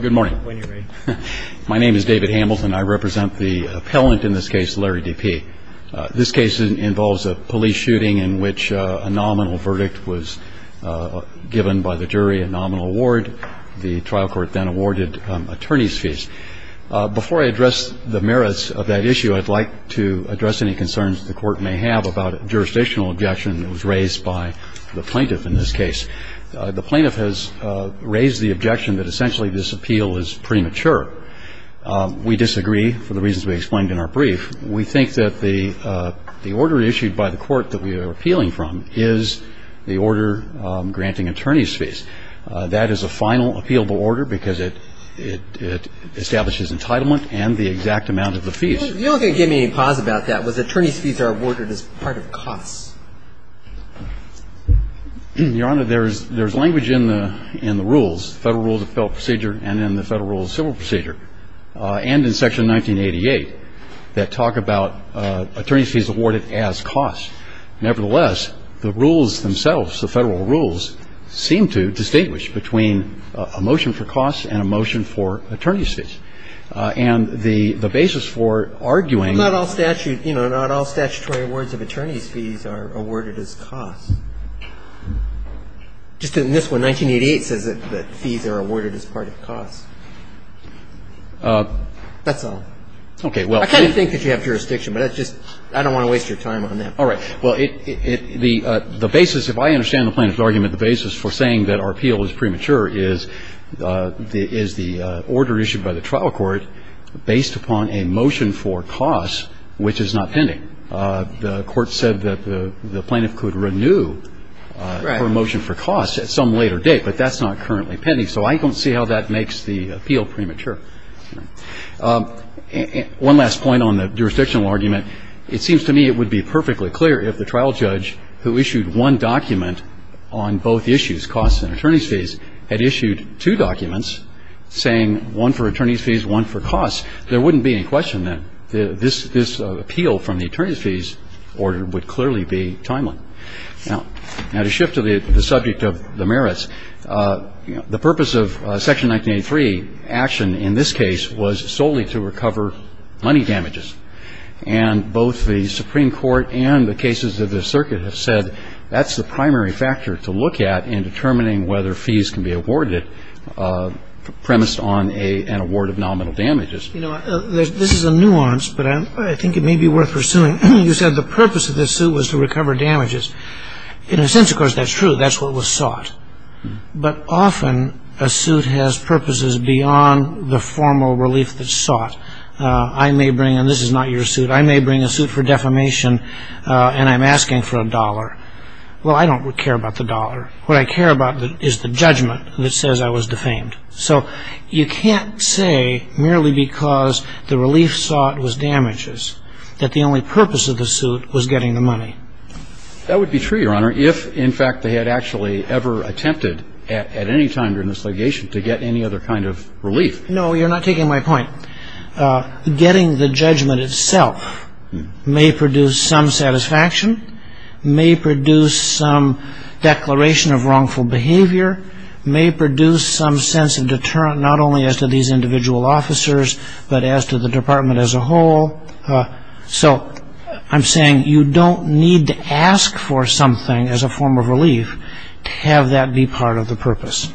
Good morning. My name is David Hamilton. I represent the appellant in this case, Larry Depee. This case involves a police shooting in which a nominal verdict was given by the jury, a nominal award. The trial court then awarded attorneys' fees. Before I address the merits of that issue, I'd like to address any concerns the court may have about a jurisdictional objection that was raised by the plaintiff in this case. The plaintiff has raised the objection that essentially this appeal is premature. We disagree, for the reasons we explained in our brief. We think that the order issued by the court that we are appealing from is the order granting attorneys' fees. That is a final appealable order because it establishes entitlement and the exact amount of the fees. You're not going to give me any pause about that. The question is whether or not the court is going to agree to the fact that the attorneys' fees are awarded as part of costs. Your Honor, there is language in the rules, Federal Rules of Appeal procedure and in the Federal Rules of Civil Procedure and in Section 1988 that talk about attorneys' fees awarded as costs. Nevertheless, the rules themselves, the Federal rules, seem to distinguish between a motion for costs and a motion for attorney's fees. And the basis for arguing that all statute, you know, not all statutory awards of attorney's fees are awarded as costs. Just in this one, 1988 says that fees are awarded as part of costs. That's all. I kind of think that you have jurisdiction, but I don't want to waste your time on that. All right. Well, the basis, if I understand the plaintiff's argument, the basis for saying that our appeal is premature is the order issued by the trial court based upon a motion for costs, which is not pending. The court said that the plaintiff could renew her motion for costs at some later date, but that's not currently pending. So I don't see how that makes the appeal premature. One last point on the jurisdictional argument. It seems to me it would be perfectly clear if the trial judge who issued one document on both issues, costs and attorney's fees, had issued two documents saying one for attorney's fees, one for costs, there wouldn't be any question that this appeal from the attorney's fees order would clearly be timely. Now, to shift to the subject of the merits, the purpose of Section 1983 action in this case was solely to recover money damages. And both the Supreme Court and the cases of the circuit have said that's the primary factor to look at in determining whether fees can be awarded premised on an award of nominal damages. You know, this is a nuance, but I think it may be worth pursuing. You said the purpose of this suit was to recover damages. In a sense, of course, that's true. That's what was sought. I may bring, and this is not your suit, I may bring a suit for defamation and I'm asking for a dollar. Well, I don't care about the dollar. What I care about is the judgment that says I was defamed. So you can't say merely because the relief sought was damages that the only purpose of the suit was getting the money. That would be true, Your Honor, if, in fact, they had actually ever attempted at any time during this litigation to get any other kind of relief. No, you're not taking my point. Getting the judgment itself may produce some satisfaction, may produce some declaration of wrongful behavior, may produce some sense of deterrent not only as to these individual officers, but as to the department as a whole. So I'm saying you don't need to ask for something as a form of relief to have that be part of the purpose.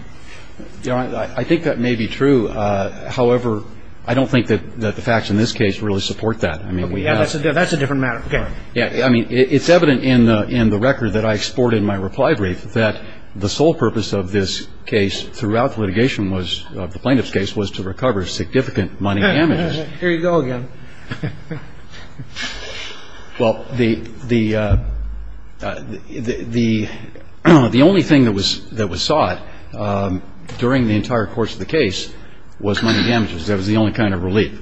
Your Honor, I think that may be true. However, I don't think that the facts in this case really support that. That's a different matter. I mean, it's evident in the record that I exported in my reply brief that the sole purpose of this case throughout the litigation was, of the plaintiff's case, was to recover significant money damages. Here you go again. Well, the only thing that was sought during the entire course of the case was money damages. That was the only kind of relief.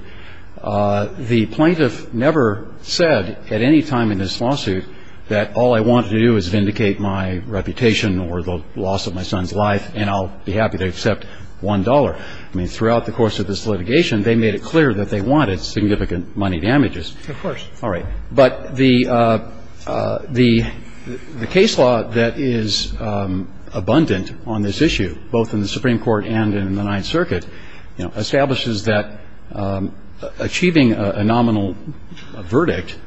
The plaintiff never said at any time in this lawsuit that all I wanted to do was vindicate my reputation or the loss of my son's life and I'll be happy to accept $1. I mean, throughout the course of this litigation, they made it clear that they wanted significant money damages. Of course. All right. But the case law that is abundant on this issue, both in the Supreme Court and in the Ninth Circuit, establishes that achieving a nominal verdict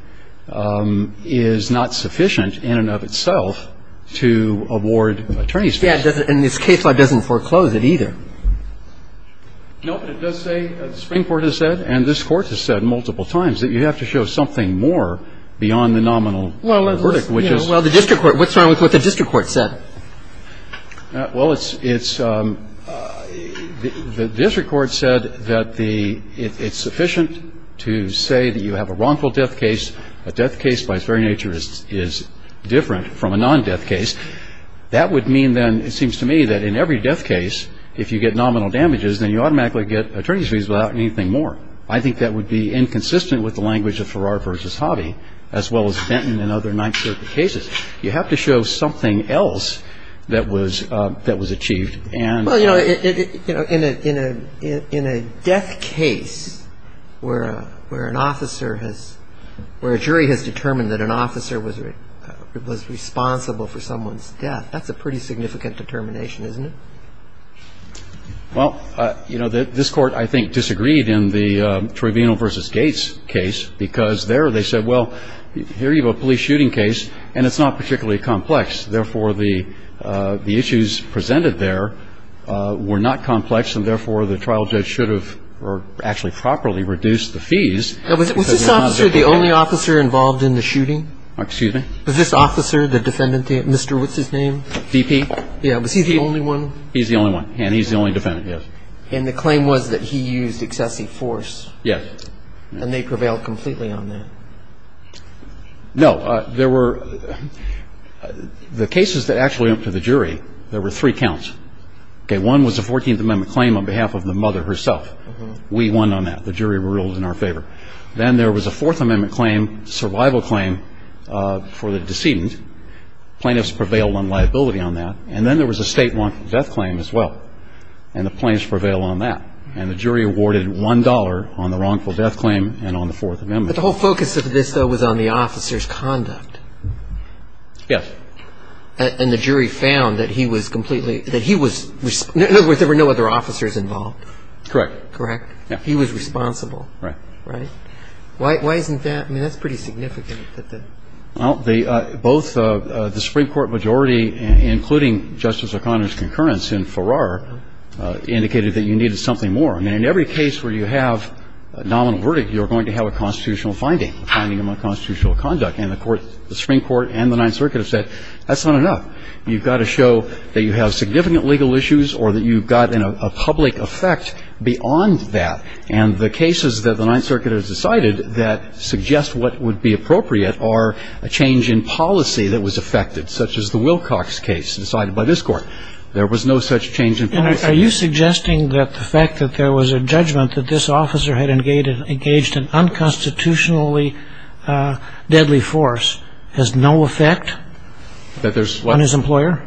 is not sufficient in and of itself to award attorney's fees. And this case law doesn't foreclose it either. No, but it does say, the Supreme Court has said, and this Court has said multiple times, that you have to show something more beyond the nominal verdict, which is. Well, the district court, what's wrong with what the district court said? Well, it's, it's, the district court said that the, it's sufficient to say that you have a wrongful death case. A death case, by its very nature, is different from a non-death case. That would mean then, it seems to me, that in every death case, if you get nominal damages, then you automatically get attorney's fees without anything more. I think that would be inconsistent with the language of Farrar v. Hobby, as well as Benton and other Ninth Circuit cases. You have to show something else that was, that was achieved. Well, you know, in a, in a, in a death case where a, where an officer has, where a jury has determined that an officer was, was responsible for someone's death, that's a pretty significant determination, isn't it? Well, you know, this Court, I think, disagreed in the Trovino v. Gates case, because there they said, well, here you have a police shooting case, and it's not particularly complex. Therefore, the, the issues presented there were not complex, and therefore, the trial judge should have, or actually properly reduced the fees. Was this officer the only officer involved in the shooting? Excuse me? Was this officer, the defendant, Mr. what's-his-name? DP. Yeah. Was he the only one? He's the only one. And he's the only defendant, yes. And the claim was that he used excessive force? Yes. And they prevailed completely on that? No. There were, the cases that actually went to the jury, there were three counts. Okay. One was a 14th Amendment claim on behalf of the mother herself. We won on that. The jury ruled in our favor. Then there was a Fourth Amendment claim, survival claim for the decedent. Plaintiffs prevailed on liability on that. And then there was a state wrongful death claim as well, and the plaintiffs prevailed on that. And the jury awarded $1 on the wrongful death claim and on the Fourth Amendment. But the whole focus of this, though, was on the officer's conduct. Yes. And the jury found that he was completely, that he was, in other words, there were no other officers involved? Correct. Correct? Yeah. He was responsible. Right. Right? Why isn't that, I mean, that's pretty significant. Well, both the Supreme Court majority, including Justice O'Connor's concurrence in Farrar, indicated that you needed something more. I mean, in every case where you have a nominal verdict, you're going to have a constitutional finding, a finding of unconstitutional conduct. And the Supreme Court and the Ninth Circuit have said that's not enough. You've got to show that you have significant legal issues or that you've got a public effect beyond that. And the cases that the Ninth Circuit has decided that suggest what would be appropriate are a change in policy that was affected, such as the Wilcox case decided by this Court. There was no such change in policy. And are you suggesting that the fact that there was a judgment that this officer had engaged an unconstitutionally deadly force has no effect on his employer?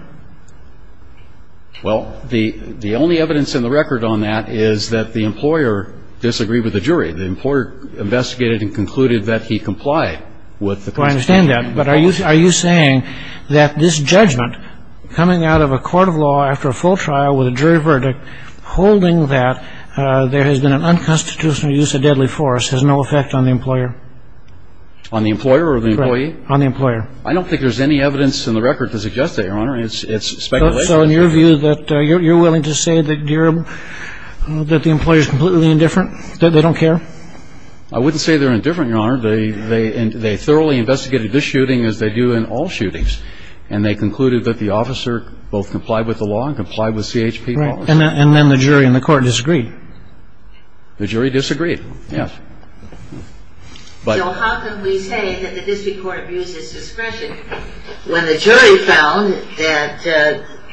Well, the only evidence in the record on that is that the employer disagreed with the jury. The employer investigated and concluded that he complied with the Constitution. I understand that. But are you saying that this judgment coming out of a court of law after a full trial with a jury verdict holding that there has been an unconstitutional use of deadly force has no effect on the employer? On the employer or the employee? On the employer. I don't think there's any evidence in the record to suggest that, Your Honor. It's speculation. So in your view, you're willing to say that the employer is completely indifferent, that they don't care? I wouldn't say they're indifferent, Your Honor. They thoroughly investigated this shooting as they do in all shootings. And they concluded that the officer both complied with the law and complied with CHP policy. And then the jury and the court disagreed? The jury disagreed, yes. So how can we say that the district court abused his discretion when the jury found that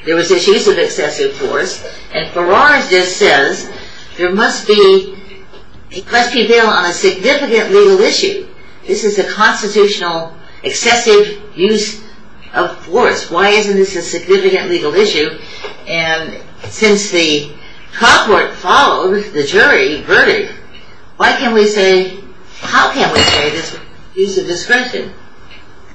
there was an use of excessive force? And Farrar's just says there must be a question there on a significant legal issue. This is a constitutional excessive use of force. Why isn't this a significant legal issue? And since the court followed the jury verdict, why can't we say, how can we say there's use of discretion?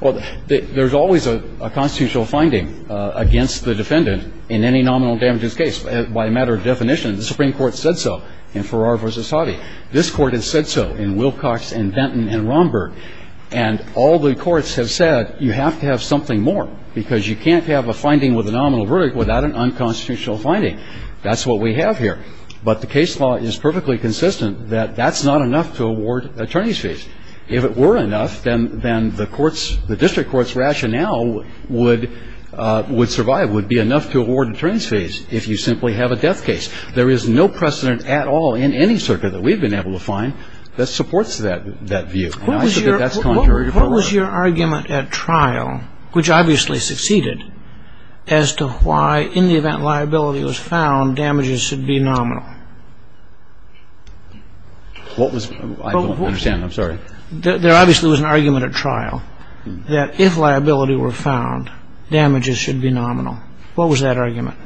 Well, there's always a constitutional finding against the defendant in any nominal damages case. By a matter of definition, the Supreme Court said so in Farrar v. Sotti. This court has said so in Wilcox and Benton and Romberg. And all the courts have said you have to have something more because you can't have a finding with a nominal verdict without an unconstitutional finding. That's what we have here. But the case law is perfectly consistent that that's not enough to award attorney's fees. If it were enough, then the district court's rationale would survive, would be enough to award attorney's fees if you simply have a death case. There is no precedent at all in any circuit that we've been able to find that supports that view. And I think that that's contrary to Farrar. What was your argument at trial, which obviously succeeded, as to why in the event liability was found, damages should be nominal? I don't understand. I'm sorry. There obviously was an argument at trial that if liability were found, damages should be nominal. What was that argument?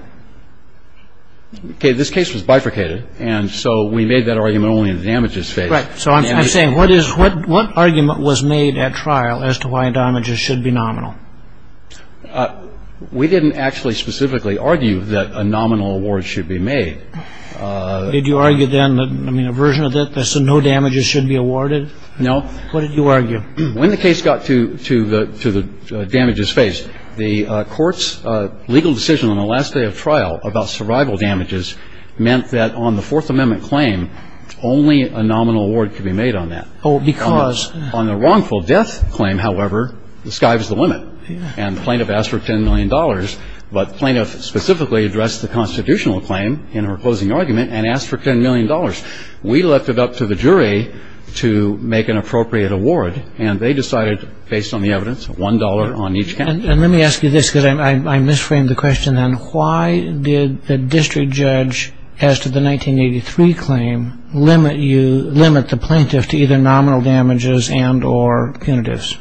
Okay. This case was bifurcated. And so we made that argument only in the damages phase. Right. So I'm saying what argument was made at trial as to why damages should be nominal? We didn't actually specifically argue that a nominal award should be made. Did you argue then that, I mean, a version of it that said no damages should be awarded? No. What did you argue? When the case got to the damages phase, the court's legal decision on the last day of trial about survival damages meant that on the Fourth Amendment claim, only a nominal award could be made on that. Oh, because? On the wrongful death claim, however, the sky was the limit. Yeah. And the plaintiff asked for $10 million, but the plaintiff specifically addressed the constitutional claim in her closing argument and asked for $10 million. We left it up to the jury to make an appropriate award, and they decided, based on the evidence, $1 on each count. And let me ask you this, because I misframed the question then. Why did the district judge, as to the 1983 claim, limit the plaintiff to either nominal damages and or punitives?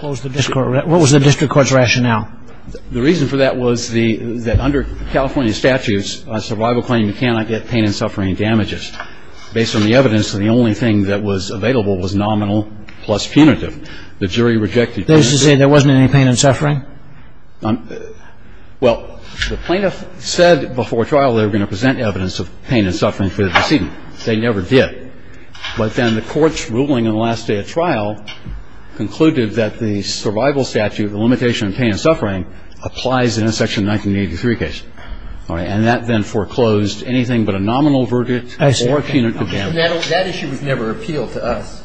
What was the district court's rationale? The reason for that was that under California statutes, a survival claim cannot get pain and suffering damages. Based on the evidence, the only thing that was available was nominal plus punitive. The jury rejected that. That is to say there wasn't any pain and suffering? Well, the plaintiff said before trial they were going to present evidence of pain and suffering for the decedent. They never did. But then the court's ruling on the last day of trial concluded that the survival statute, the limitation on pain and suffering, applies in a Section 1983 case. All right. And that then foreclosed anything but a nominal verdict or a punitive damage. I see. That issue was never appealed to us.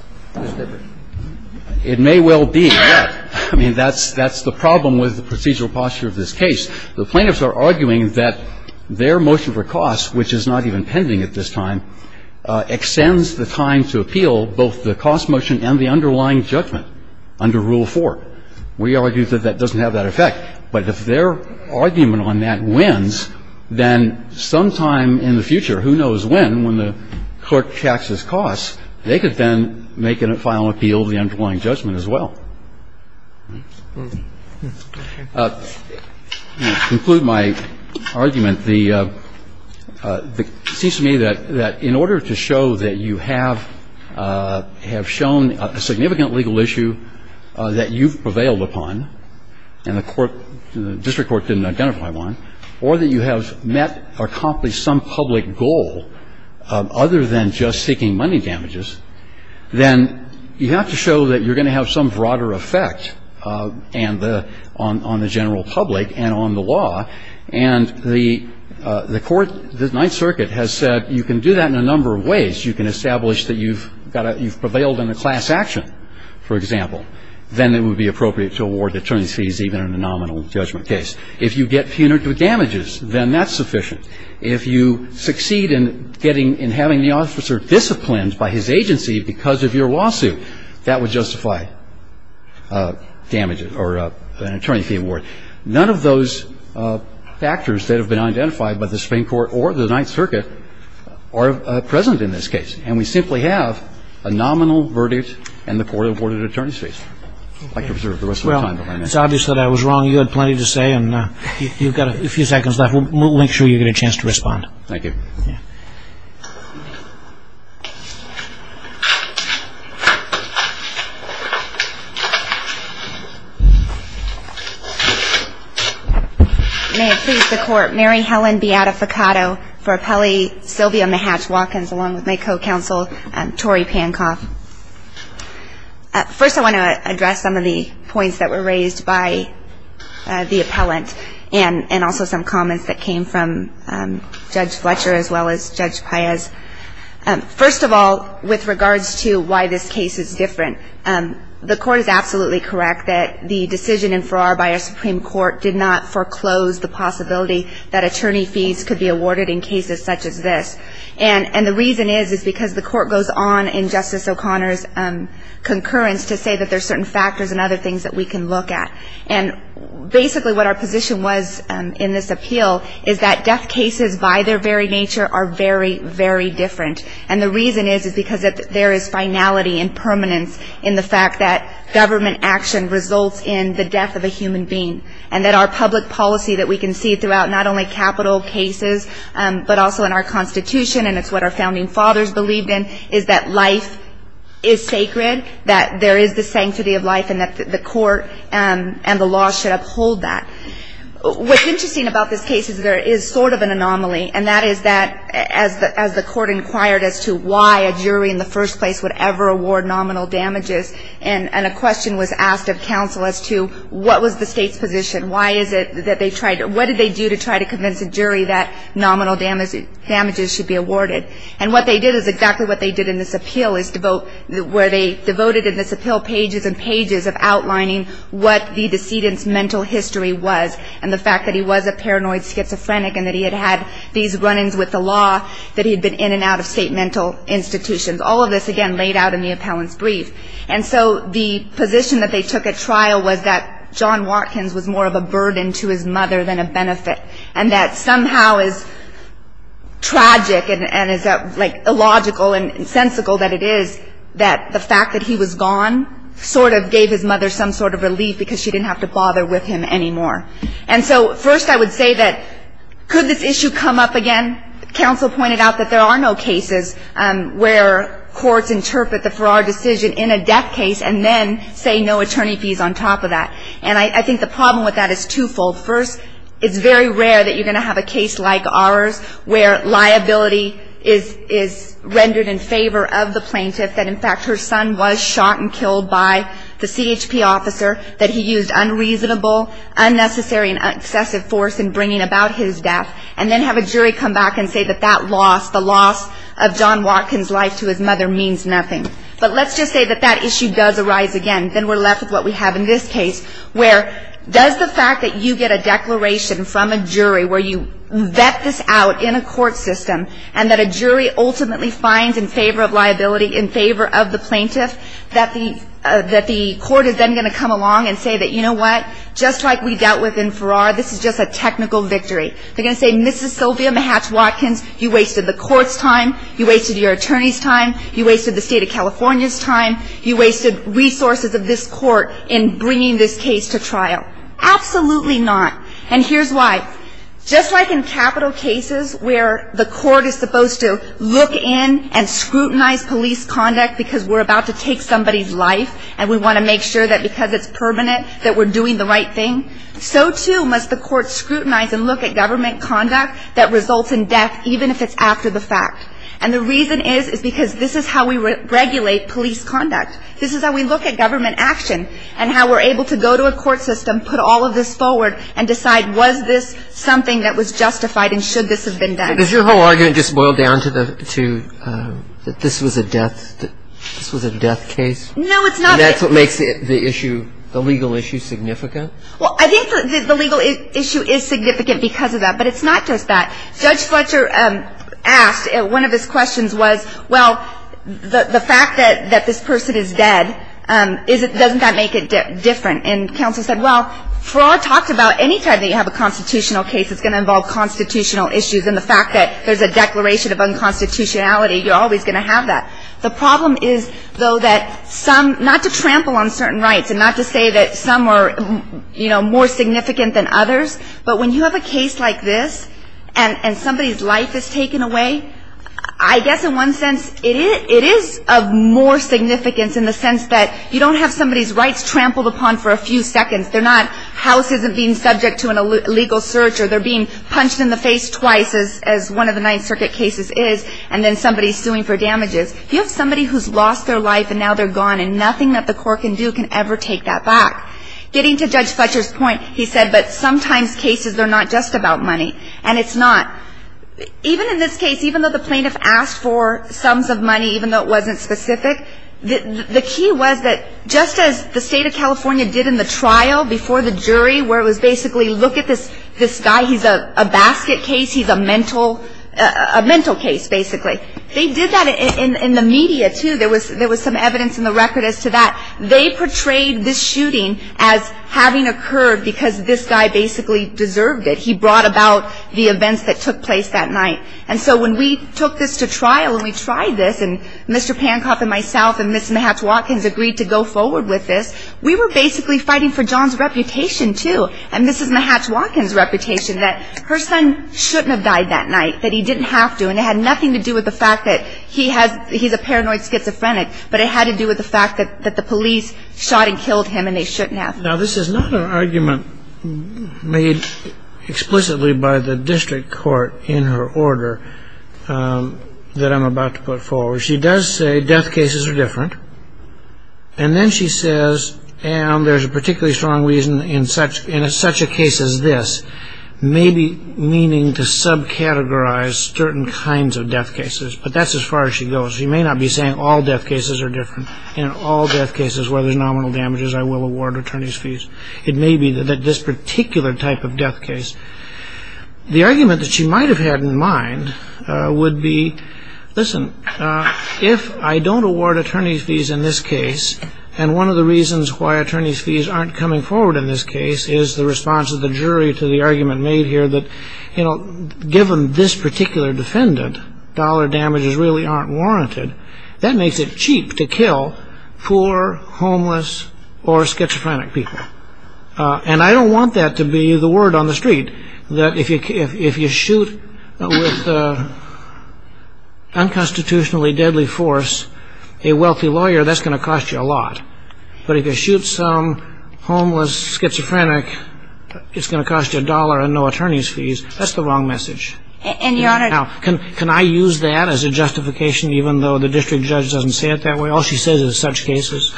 It may well be. Yeah. I mean, that's the problem with the procedural posture of this case. The plaintiffs are arguing that their motion for costs, which is not even pending at this time, extends the time to appeal both the cost motion and the underlying judgment under Rule 4. We argue that that doesn't have that effect. But if their argument on that wins, then sometime in the future, who knows when, when the court taxes costs, they could then make a final appeal of the underlying judgment as well. To conclude my argument, it seems to me that in order to show that you have shown a significant legal issue that you've prevailed upon, and the court, the district court didn't identify one, or that you have met or accomplished some public goal other than just seeking money damages, then you have to show that you're going to have some broader effect on the general public and on the law. And the court, the Ninth Circuit, has said you can do that in a number of ways. You can establish that you've prevailed in a class action, for example. Then it would be appropriate to award attorneys' fees even in a nominal judgment case. If you get punitive damages, then that's sufficient. If you succeed in getting, in having the officer disciplined by his agency because of your lawsuit, that would justify damages or an attorney fee award. None of those factors that have been identified by the Supreme Court or the Ninth Circuit are present in this case. And we simply have a nominal verdict and the court awarded attorneys' fees. I'd like to observe the rest of the time. Well, it's obvious that I was wrong. You had plenty to say, and you've got a few seconds left. We'll make sure you get a chance to respond. Thank you. May it please the Court, Mary Helen Beata Faccato for Appellee Sylvia Mahatch-Walkins, along with my co-counsel, Tori Pankoff. First, I want to address some of the points that were raised by the appellant and also some comments that came from Judge Fletcher as well as Judge Paez. First of all, with regards to why this case is different, the Court is absolutely correct that the decision in Farrar by our Supreme Court did not foreclose the possibility that attorney fees could be awarded in cases such as this. And the reason is is because the Court goes on in Justice O'Connor's concurrence to say that there are certain factors and other things that we can look at. And basically what our position was in this appeal is that death cases, by their very nature, are very, very different. And the reason is is because there is finality and permanence in the fact that government action results in the death of a human being and that our public policy that we can see throughout not only capital cases but also in our Constitution, and it's what our founding fathers believed in, is that life is sacred, that there is the sanctity of life, and that the Court and the law should uphold that. What's interesting about this case is there is sort of an anomaly, and that is that as the Court inquired as to why a jury in the first place would ever award nominal damages, and a question was asked of counsel as to what was the State's position. What did they do to try to convince a jury that nominal damages should be awarded? And what they did is exactly what they did in this appeal, where they devoted in this appeal pages and pages of outlining what the decedent's mental history was and the fact that he was a paranoid schizophrenic and that he had had these run-ins with the law, that he had been in and out of State mental institutions. All of this, again, laid out in the appellant's brief. And so the position that they took at trial was that John Watkins was more of a burden to his mother than a benefit and that somehow as tragic and as illogical and sensical that it is, that the fact that he was gone sort of gave his mother some sort of relief because she didn't have to bother with him anymore. And so first I would say that could this issue come up again? Counsel pointed out that there are no cases where courts interpret the Farrar decision in a death case and then say no attorney fees on top of that. And I think the problem with that is twofold. First, it's very rare that you're going to have a case like ours where liability is rendered in favor of the plaintiff, that in fact her son was shot and killed by the CHP officer, that he used unreasonable, unnecessary and excessive force in bringing about his death, and then have a jury come back and say that that loss, the loss of John Watkins' life to his mother means nothing. But let's just say that that issue does arise again. Then we're left with what we have in this case, where does the fact that you get a declaration from a jury where you vet this out in a court system and that a jury ultimately finds in favor of liability, in favor of the plaintiff, that the court is then going to come along and say that, you know what, just like we dealt with in Farrar, this is just a technical victory. They're going to say, Mrs. Sylvia Mahatch-Watkins, you wasted the court's time, you wasted your attorney's time, you wasted the state of California's time, you wasted resources of this court in bringing this case to trial. Absolutely not. And here's why. Just like in capital cases where the court is supposed to look in and scrutinize police conduct because we're about to take somebody's life and we want to make sure that because it's permanent that we're doing the right thing, so too must the court scrutinize and look at government conduct that results in death, even if it's after the fact. And the reason is, is because this is how we regulate police conduct. This is how we look at government action and how we're able to go to a court system, put all of this forward, and decide was this something that was justified and should this have been done. But does your whole argument just boil down to that this was a death case? No, it's not. And that's what makes the issue, the legal issue, significant? Well, I think the legal issue is significant because of that, but it's not just that. Judge Fletcher asked, one of his questions was, well, the fact that this person is dead, doesn't that make it different? And counsel said, well, fraud talks about any time that you have a constitutional case, it's going to involve constitutional issues and the fact that there's a declaration of unconstitutionality, you're always going to have that. The problem is, though, that some, not to trample on certain rights and not to say that some are, you know, more significant than others, but when you have a case like this and somebody's life is taken away, I guess in one sense it is of more significance in the sense that you don't have somebody's rights trampled upon for a few seconds. They're not, house isn't being subject to an illegal search or they're being punched in the face twice, as one of the Ninth Circuit cases is, and then somebody's suing for damages. You have somebody who's lost their life and now they're gone and nothing that the court can do can ever take that back. Getting to Judge Fletcher's point, he said, but sometimes cases are not just about money and it's not. Even in this case, even though the plaintiff asked for sums of money, even though it wasn't specific, the key was that just as the State of California did in the trial before the jury where it was basically, look at this guy, he's a basket case, he's a mental case, basically. They did that in the media, too. There was some evidence in the record as to that. They portrayed this shooting as having occurred because this guy basically deserved it. He brought about the events that took place that night. And so when we took this to trial and we tried this and Mr. Pankoff and myself and Mrs. Mahatch-Watkins agreed to go forward with this, we were basically fighting for John's reputation, too, and Mrs. Mahatch-Watkins' reputation that her son shouldn't have died that night, that he didn't have to, and it had nothing to do with the fact that he's a paranoid schizophrenic, but it had to do with the fact that the police shot and killed him and they shouldn't have. Now, this is not an argument made explicitly by the district court in her order that I'm about to put forward. She does say death cases are different, and then she says, and there's a particularly strong reason in such a case as this, maybe meaning to subcategorize certain kinds of death cases, but that's as far as she goes. She may not be saying all death cases are different. In all death cases where there's nominal damages, I will award attorney's fees. It may be that this particular type of death case. The argument that she might have had in mind would be, listen, if I don't award attorney's fees in this case, and one of the reasons why attorney's fees aren't coming forward in this case is the response of the jury to the argument made here that, you know, given this particular defendant, dollar damages really aren't warranted, that makes it cheap to kill poor, homeless, or schizophrenic people. And I don't want that to be the word on the street, that if you shoot with unconstitutionally deadly force a wealthy lawyer, that's going to cost you a lot. But if you shoot some homeless schizophrenic, it's going to cost you a dollar and no attorney's fees. That's the wrong message. Now, can I use that as a justification, even though the district judge doesn't say it that way? All she says is such cases.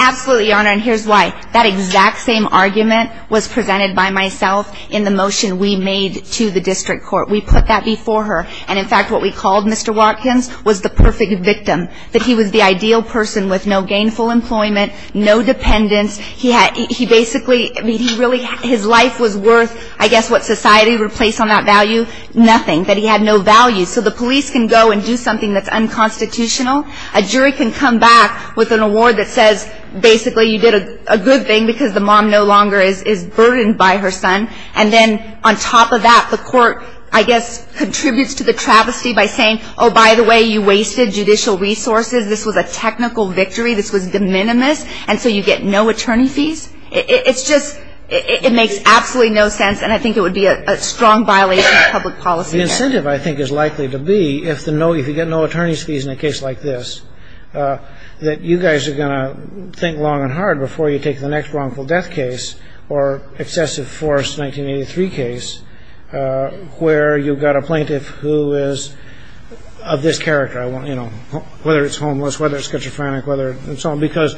Absolutely, Your Honor, and here's why. That exact same argument was presented by myself in the motion we made to the district court. We put that before her. And, in fact, what we called Mr. Watkins was the perfect victim, that he was the ideal person with no gainful employment, no dependents. He basically, I mean, his life was worth, I guess, what society replaced on that value. Nothing, that he had no value. So the police can go and do something that's unconstitutional. A jury can come back with an award that says, basically, you did a good thing, because the mom no longer is burdened by her son. And then, on top of that, the court, I guess, contributes to the travesty by saying, oh, by the way, you wasted judicial resources. This was a technical victory. This was de minimis. And so you get no attorney fees. It's just, it makes absolutely no sense. And I think it would be a strong violation of public policy. The incentive, I think, is likely to be, if you get no attorney's fees in a case like this, that you guys are going to think long and hard before you take the next wrongful death case or excessive force 1983 case where you've got a plaintiff who is of this character, whether it's homeless, whether it's schizophrenic, and so on. Because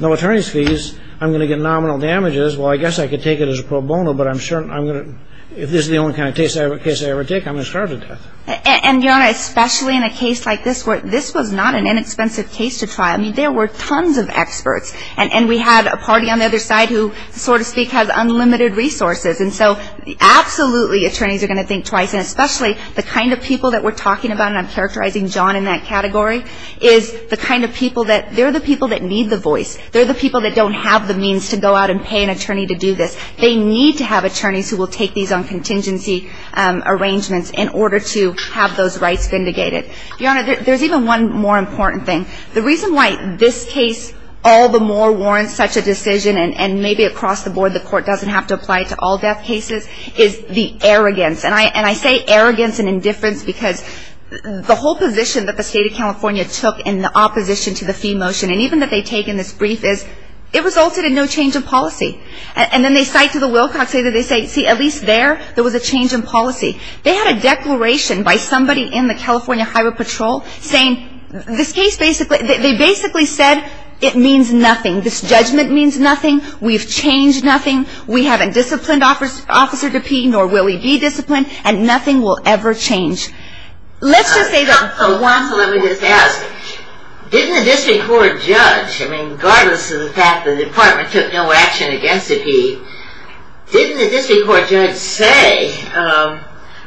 no attorney's fees, I'm going to get nominal damages. Well, I guess I could take it as a pro bono, but I'm sure I'm going to, if this is the only kind of case I ever take, I'm going to starve to death. And, Your Honor, especially in a case like this where this was not an inexpensive case to trial. I mean, there were tons of experts. And we had a party on the other side who, so to speak, has unlimited resources. And so, absolutely, attorneys are going to think twice, and especially the kind of people that we're talking about, and I'm characterizing John in that category, is the kind of people that they're the people that need the voice. They're the people that don't have the means to go out and pay an attorney to do this. They need to have attorneys who will take these on contingency arrangements in order to have those rights vindicated. Your Honor, there's even one more important thing. The reason why this case all the more warrants such a decision, and maybe across the board the court doesn't have to apply it to all death cases, is the arrogance. And I say arrogance and indifference because the whole position that the State of California took in the opposition to the fee motion, and even that they take in this brief, is it resulted in no change of policy. And then they cite to the Wilcox case that they say, see, at least there, there was a change in policy. They had a declaration by somebody in the California Highway Patrol saying, this case basically, they basically said it means nothing. This judgment means nothing. We've changed nothing. We haven't disciplined Officer DePee, nor will we be disciplined, and nothing will ever change. Let's just say that. Let me just ask. Didn't the district court judge, I mean, regardless of the fact that the department took no action against DePee, didn't the district court judge say,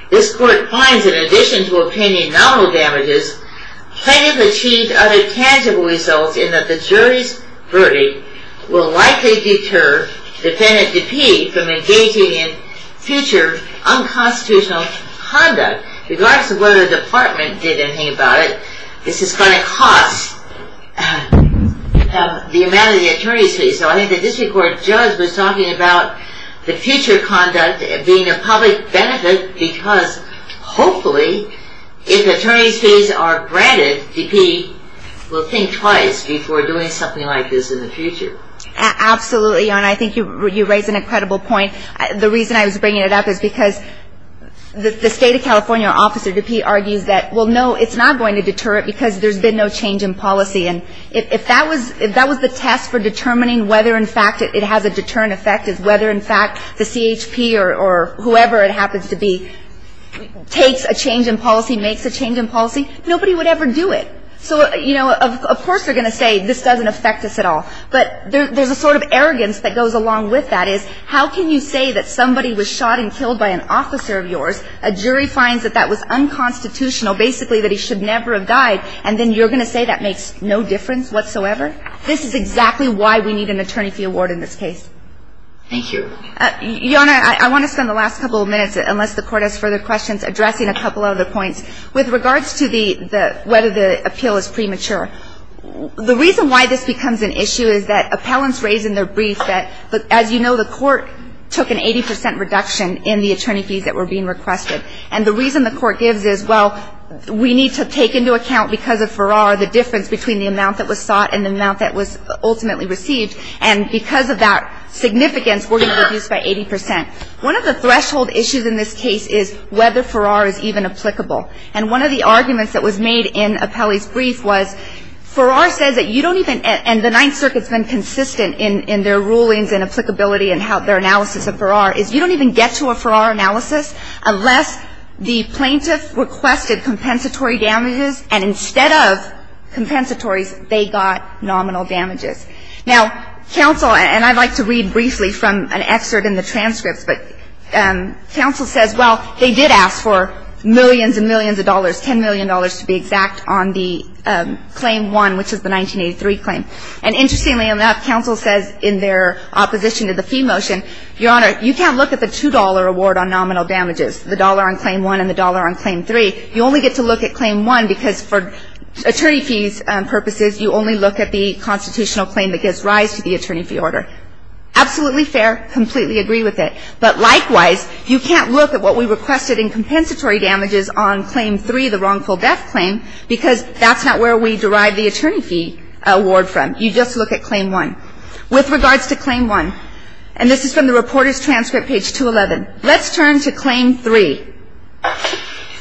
this court finds in addition to obtaining nominal damages, plaintiff achieved other tangible results in that the jury's verdict will likely deter defendant DePee from engaging in future unconstitutional conduct. Regardless of whether the department did anything about it, this is going to cost the amount of the attorney's fees. So I think the district court judge was talking about the future conduct being a public benefit because hopefully if attorney's fees are granted, DePee will think twice before doing something like this in the future. Absolutely. And I think you raise an incredible point. The reason I was bringing it up is because the state of California, Officer DePee argues that, well, no, it's not going to deter it because there's been no change in policy. And if that was the test for determining whether, in fact, it has a deterrent effect, is whether, in fact, the CHP or whoever it happens to be takes a change in policy, makes a change in policy, nobody would ever do it. So, you know, of course they're going to say this doesn't affect us at all. But there's a sort of arrogance that goes along with that, is how can you say that somebody was shot and killed by an officer of yours, a jury finds that that was unconstitutional, basically that he should never have died, and then you're going to say that makes no difference whatsoever? This is exactly why we need an attorney fee award in this case. Thank you. Your Honor, I want to spend the last couple of minutes, unless the Court has further questions, addressing a couple other points. With regards to the – whether the appeal is premature, the reason why this becomes an issue is that appellants raise in their brief that, as you know, the Court took an 80 percent reduction in the attorney fees that were being requested. And the reason the Court gives is, well, we need to take into account because of Farrar the difference between the amount that was sought and the amount that was ultimately received. And because of that significance, we're going to reduce by 80 percent. One of the threshold issues in this case is whether Farrar is even applicable. And one of the arguments that was made in Appellee's brief was Farrar says that you don't even – and the Ninth Circuit's been consistent in their rulings and applicability and their analysis of Farrar, is you don't even get to a Farrar analysis unless the plaintiff requested compensatory damages, and instead of compensatories, they got nominal damages. Now, counsel – and I'd like to read briefly from an excerpt in the transcripts, but counsel says, well, they did ask for millions and millions of dollars, $10 million to be exact, on the Claim 1, which is the 1983 claim. And interestingly enough, counsel says in their opposition to the fee motion, Your Honor, you can't look at the $2 award on nominal damages, the dollar on Claim 1 and the dollar on Claim 3. You only get to look at Claim 1 because for attorney fees purposes, you only look at the constitutional claim that gives rise to the attorney fee order. Absolutely fair. Completely agree with it. But likewise, you can't look at what we requested in compensatory damages on Claim 3, the wrongful death claim, because that's not where we derive the attorney fee award from. You just look at Claim 1. With regards to Claim 1, and this is from the reporter's transcript, page 211. Let's turn to Claim 3,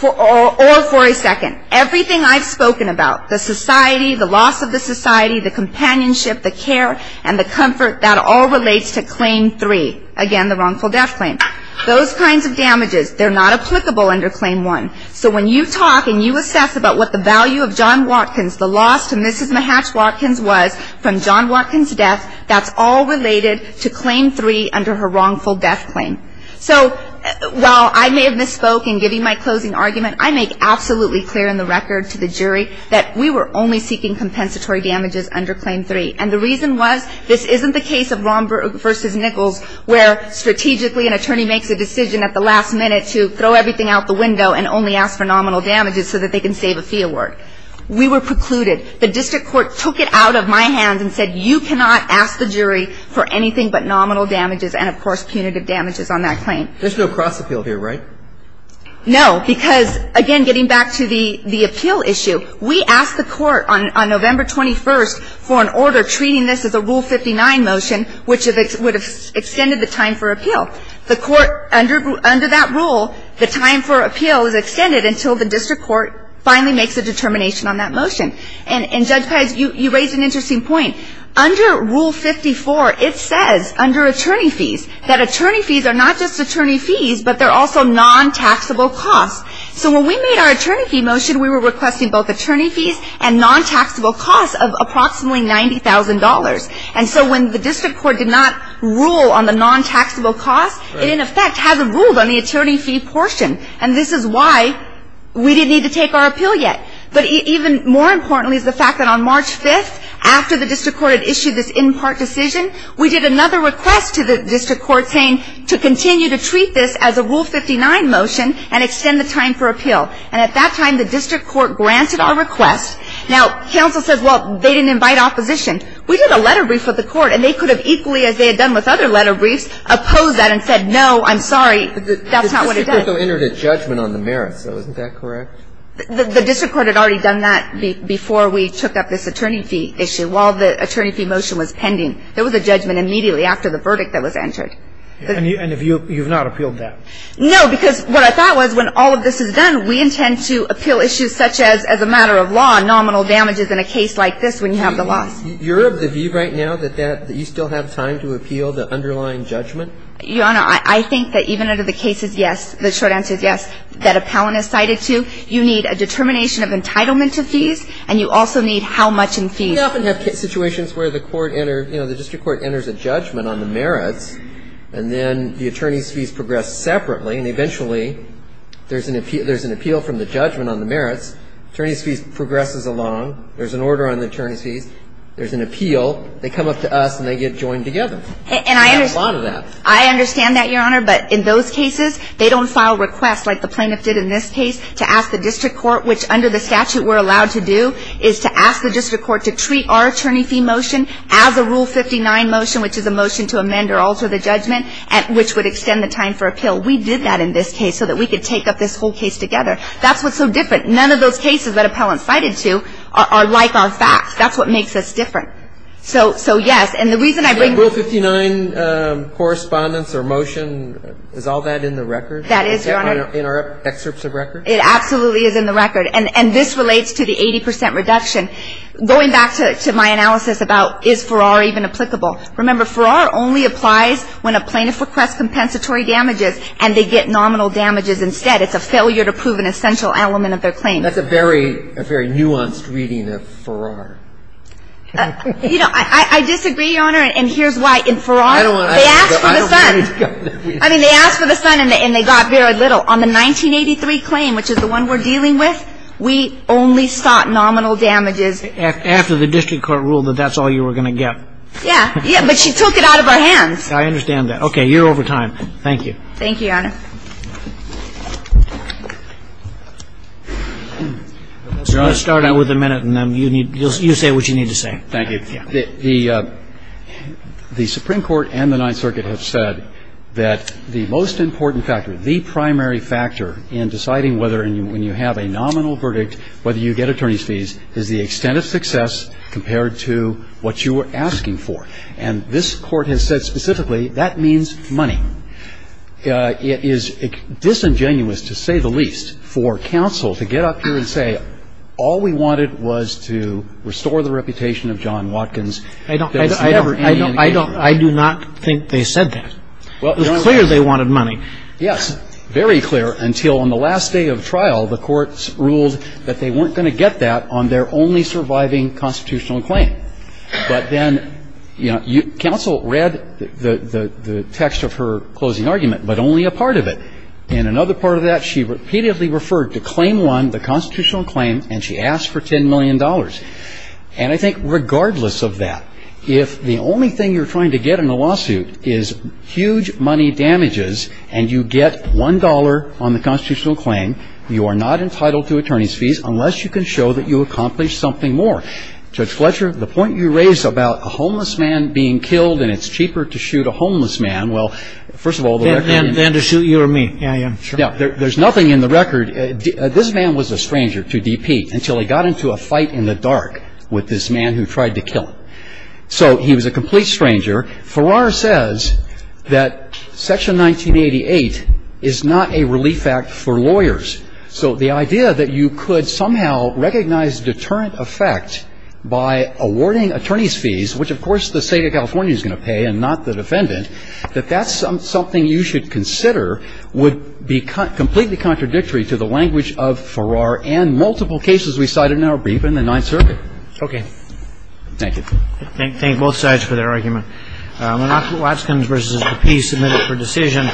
or for a second. Everything I've spoken about, the society, the loss of the society, the companionship, the care, and the comfort, that all relates to Claim 3. Again, the wrongful death claim. Those kinds of damages, they're not applicable under Claim 1. So when you talk and you assess about what the value of John Watkins, the loss to Mrs. Mahatch-Watkins was from John Watkins' death, that's all related to Claim 3 under her wrongful death claim. So while I may have misspoke in giving my closing argument, I make absolutely clear in the record to the jury that we were only seeking compensatory damages under Claim 3. And the reason was, this isn't the case of Romberg v. Nichols where strategically an attorney makes a decision at the last minute to throw everything out the window and only ask for nominal damages so that they can save a fee award. We were precluded. The district court took it out of my hands and said, you cannot ask the jury for anything but nominal damages and, of course, punitive damages on that claim. There's no cross-appeal here, right? No. Because, again, getting back to the appeal issue, we asked the Court on November 21st for an order treating this as a Rule 59 motion, which would have extended the time for appeal. The Court, under that rule, the time for appeal is extended until the district court finally makes a determination on that motion. And, Judge Pez, you raised an interesting point. Under Rule 54, it says, under attorney fees, that attorney fees are not just attorney fees but they're also non-taxable costs. So when we made our attorney fee motion, we were requesting both attorney fees and non-taxable costs of approximately $90,000. And so when the district court did not rule on the non-taxable costs, it, in effect, hasn't ruled on the attorney fee portion. And this is why we didn't need to take our appeal yet. But even more importantly is the fact that on March 5th, after the district court had issued this in-part decision, we did another request to the district court saying to continue to treat this as a Rule 59 motion and extend the time for appeal. And at that time, the district court granted a request. Now, counsel says, well, they didn't invite opposition. We did a letter brief with the court, and they could have equally, as they had done with other letter briefs, opposed that and said, no, I'm sorry, that's not what it does. But the district court has already done that before we took up this attorney fee issue while the attorney fee motion was pending. There was a judgment immediately after the verdict that was entered. And you've not appealed that. No, because what I thought was when all of this is done, we intend to appeal issues such as, as a matter of law, nominal damages in a case like this when you have the loss. You're of the view right now that you still have time to appeal the underlying Your Honor, I think that even under the cases, yes, the short-term damage, the short answer is yes, that appellant is cited to, you need a determination of entitlement to fees, and you also need how much in fees. We often have situations where the court enters, you know, the district court enters a judgment on the merits, and then the attorney's fees progress separately. And eventually, there's an appeal from the judgment on the merits. Attorney's fees progresses along. There's an order on the attorney's fees. There's an appeal. They come up to us, and they get joined together. And I understand that, Your Honor. But in those cases, they don't file requests like the plaintiff did in this case to ask the district court, which under the statute we're allowed to do, is to ask the district court to treat our attorney fee motion as a Rule 59 motion, which is a motion to amend or alter the judgment, which would extend the time for appeal. We did that in this case so that we could take up this whole case together. That's what's so different. None of those cases that appellants cited to are like our facts. That's what makes us different. So, yes. The Rule 59 correspondence or motion, is all that in the record? That is, Your Honor. Is that in our excerpts of record? It absolutely is in the record. And this relates to the 80 percent reduction. Going back to my analysis about is Farrar even applicable. Remember, Farrar only applies when a plaintiff requests compensatory damages, and they get nominal damages instead. It's a failure to prove an essential element of their claim. That's a very nuanced reading of Farrar. You know, I disagree, Your Honor, and here's why. In Farrar, they asked for the son. I mean, they asked for the son, and they got very little. On the 1983 claim, which is the one we're dealing with, we only sought nominal damages. After the district court ruled that that's all you were going to get. Yeah. Yeah, but she took it out of our hands. Okay. You're over time. Thank you. Thank you, Your Honor. I'm going to start out with a minute, and then you say what you need to say. Thank you. The Supreme Court and the Ninth Circuit have said that the most important factor, the primary factor in deciding whether, when you have a nominal verdict, whether you get attorney's fees is the extent of success compared to what you were asking for. And this Court has said specifically that means money. It is disingenuous, to say the least, for counsel to get up here and say all we wanted was to restore the reputation of John Watkins. I do not think they said that. It was clear they wanted money. Yes, very clear, until on the last day of trial, the courts ruled that they weren't going to get that on their only surviving constitutional claim. But then counsel read the text of her closing argument, but only a part of it. In another part of that, she repeatedly referred to claim one, the constitutional claim, and she asked for $10 million. And I think regardless of that, if the only thing you're trying to get in a lawsuit is huge money damages and you get $1 on the constitutional claim, you are not entitled to attorney's fees unless you can show that you accomplished something more. Judge Fletcher, the point you raised about a homeless man being killed and it's cheaper to shoot a homeless man, well, first of all, the record. Than to shoot you or me. Yeah, yeah, sure. There's nothing in the record. This man was a stranger to DP until he got into a fight in the dark with this man who tried to kill him. So he was a complete stranger. Farrar says that Section 1988 is not a relief act for lawyers. So the idea that you could somehow recognize deterrent effect by awarding attorney's fees, which, of course, the State of California is going to pay and not the defendant, that that's something you should consider would be completely contradictory to the language of Farrar and multiple cases we cited in our brief in the Ninth Circuit. Okay. Thank you. Thank you. Thank both sides for their argument. Watsons versus the peace submitted for decision.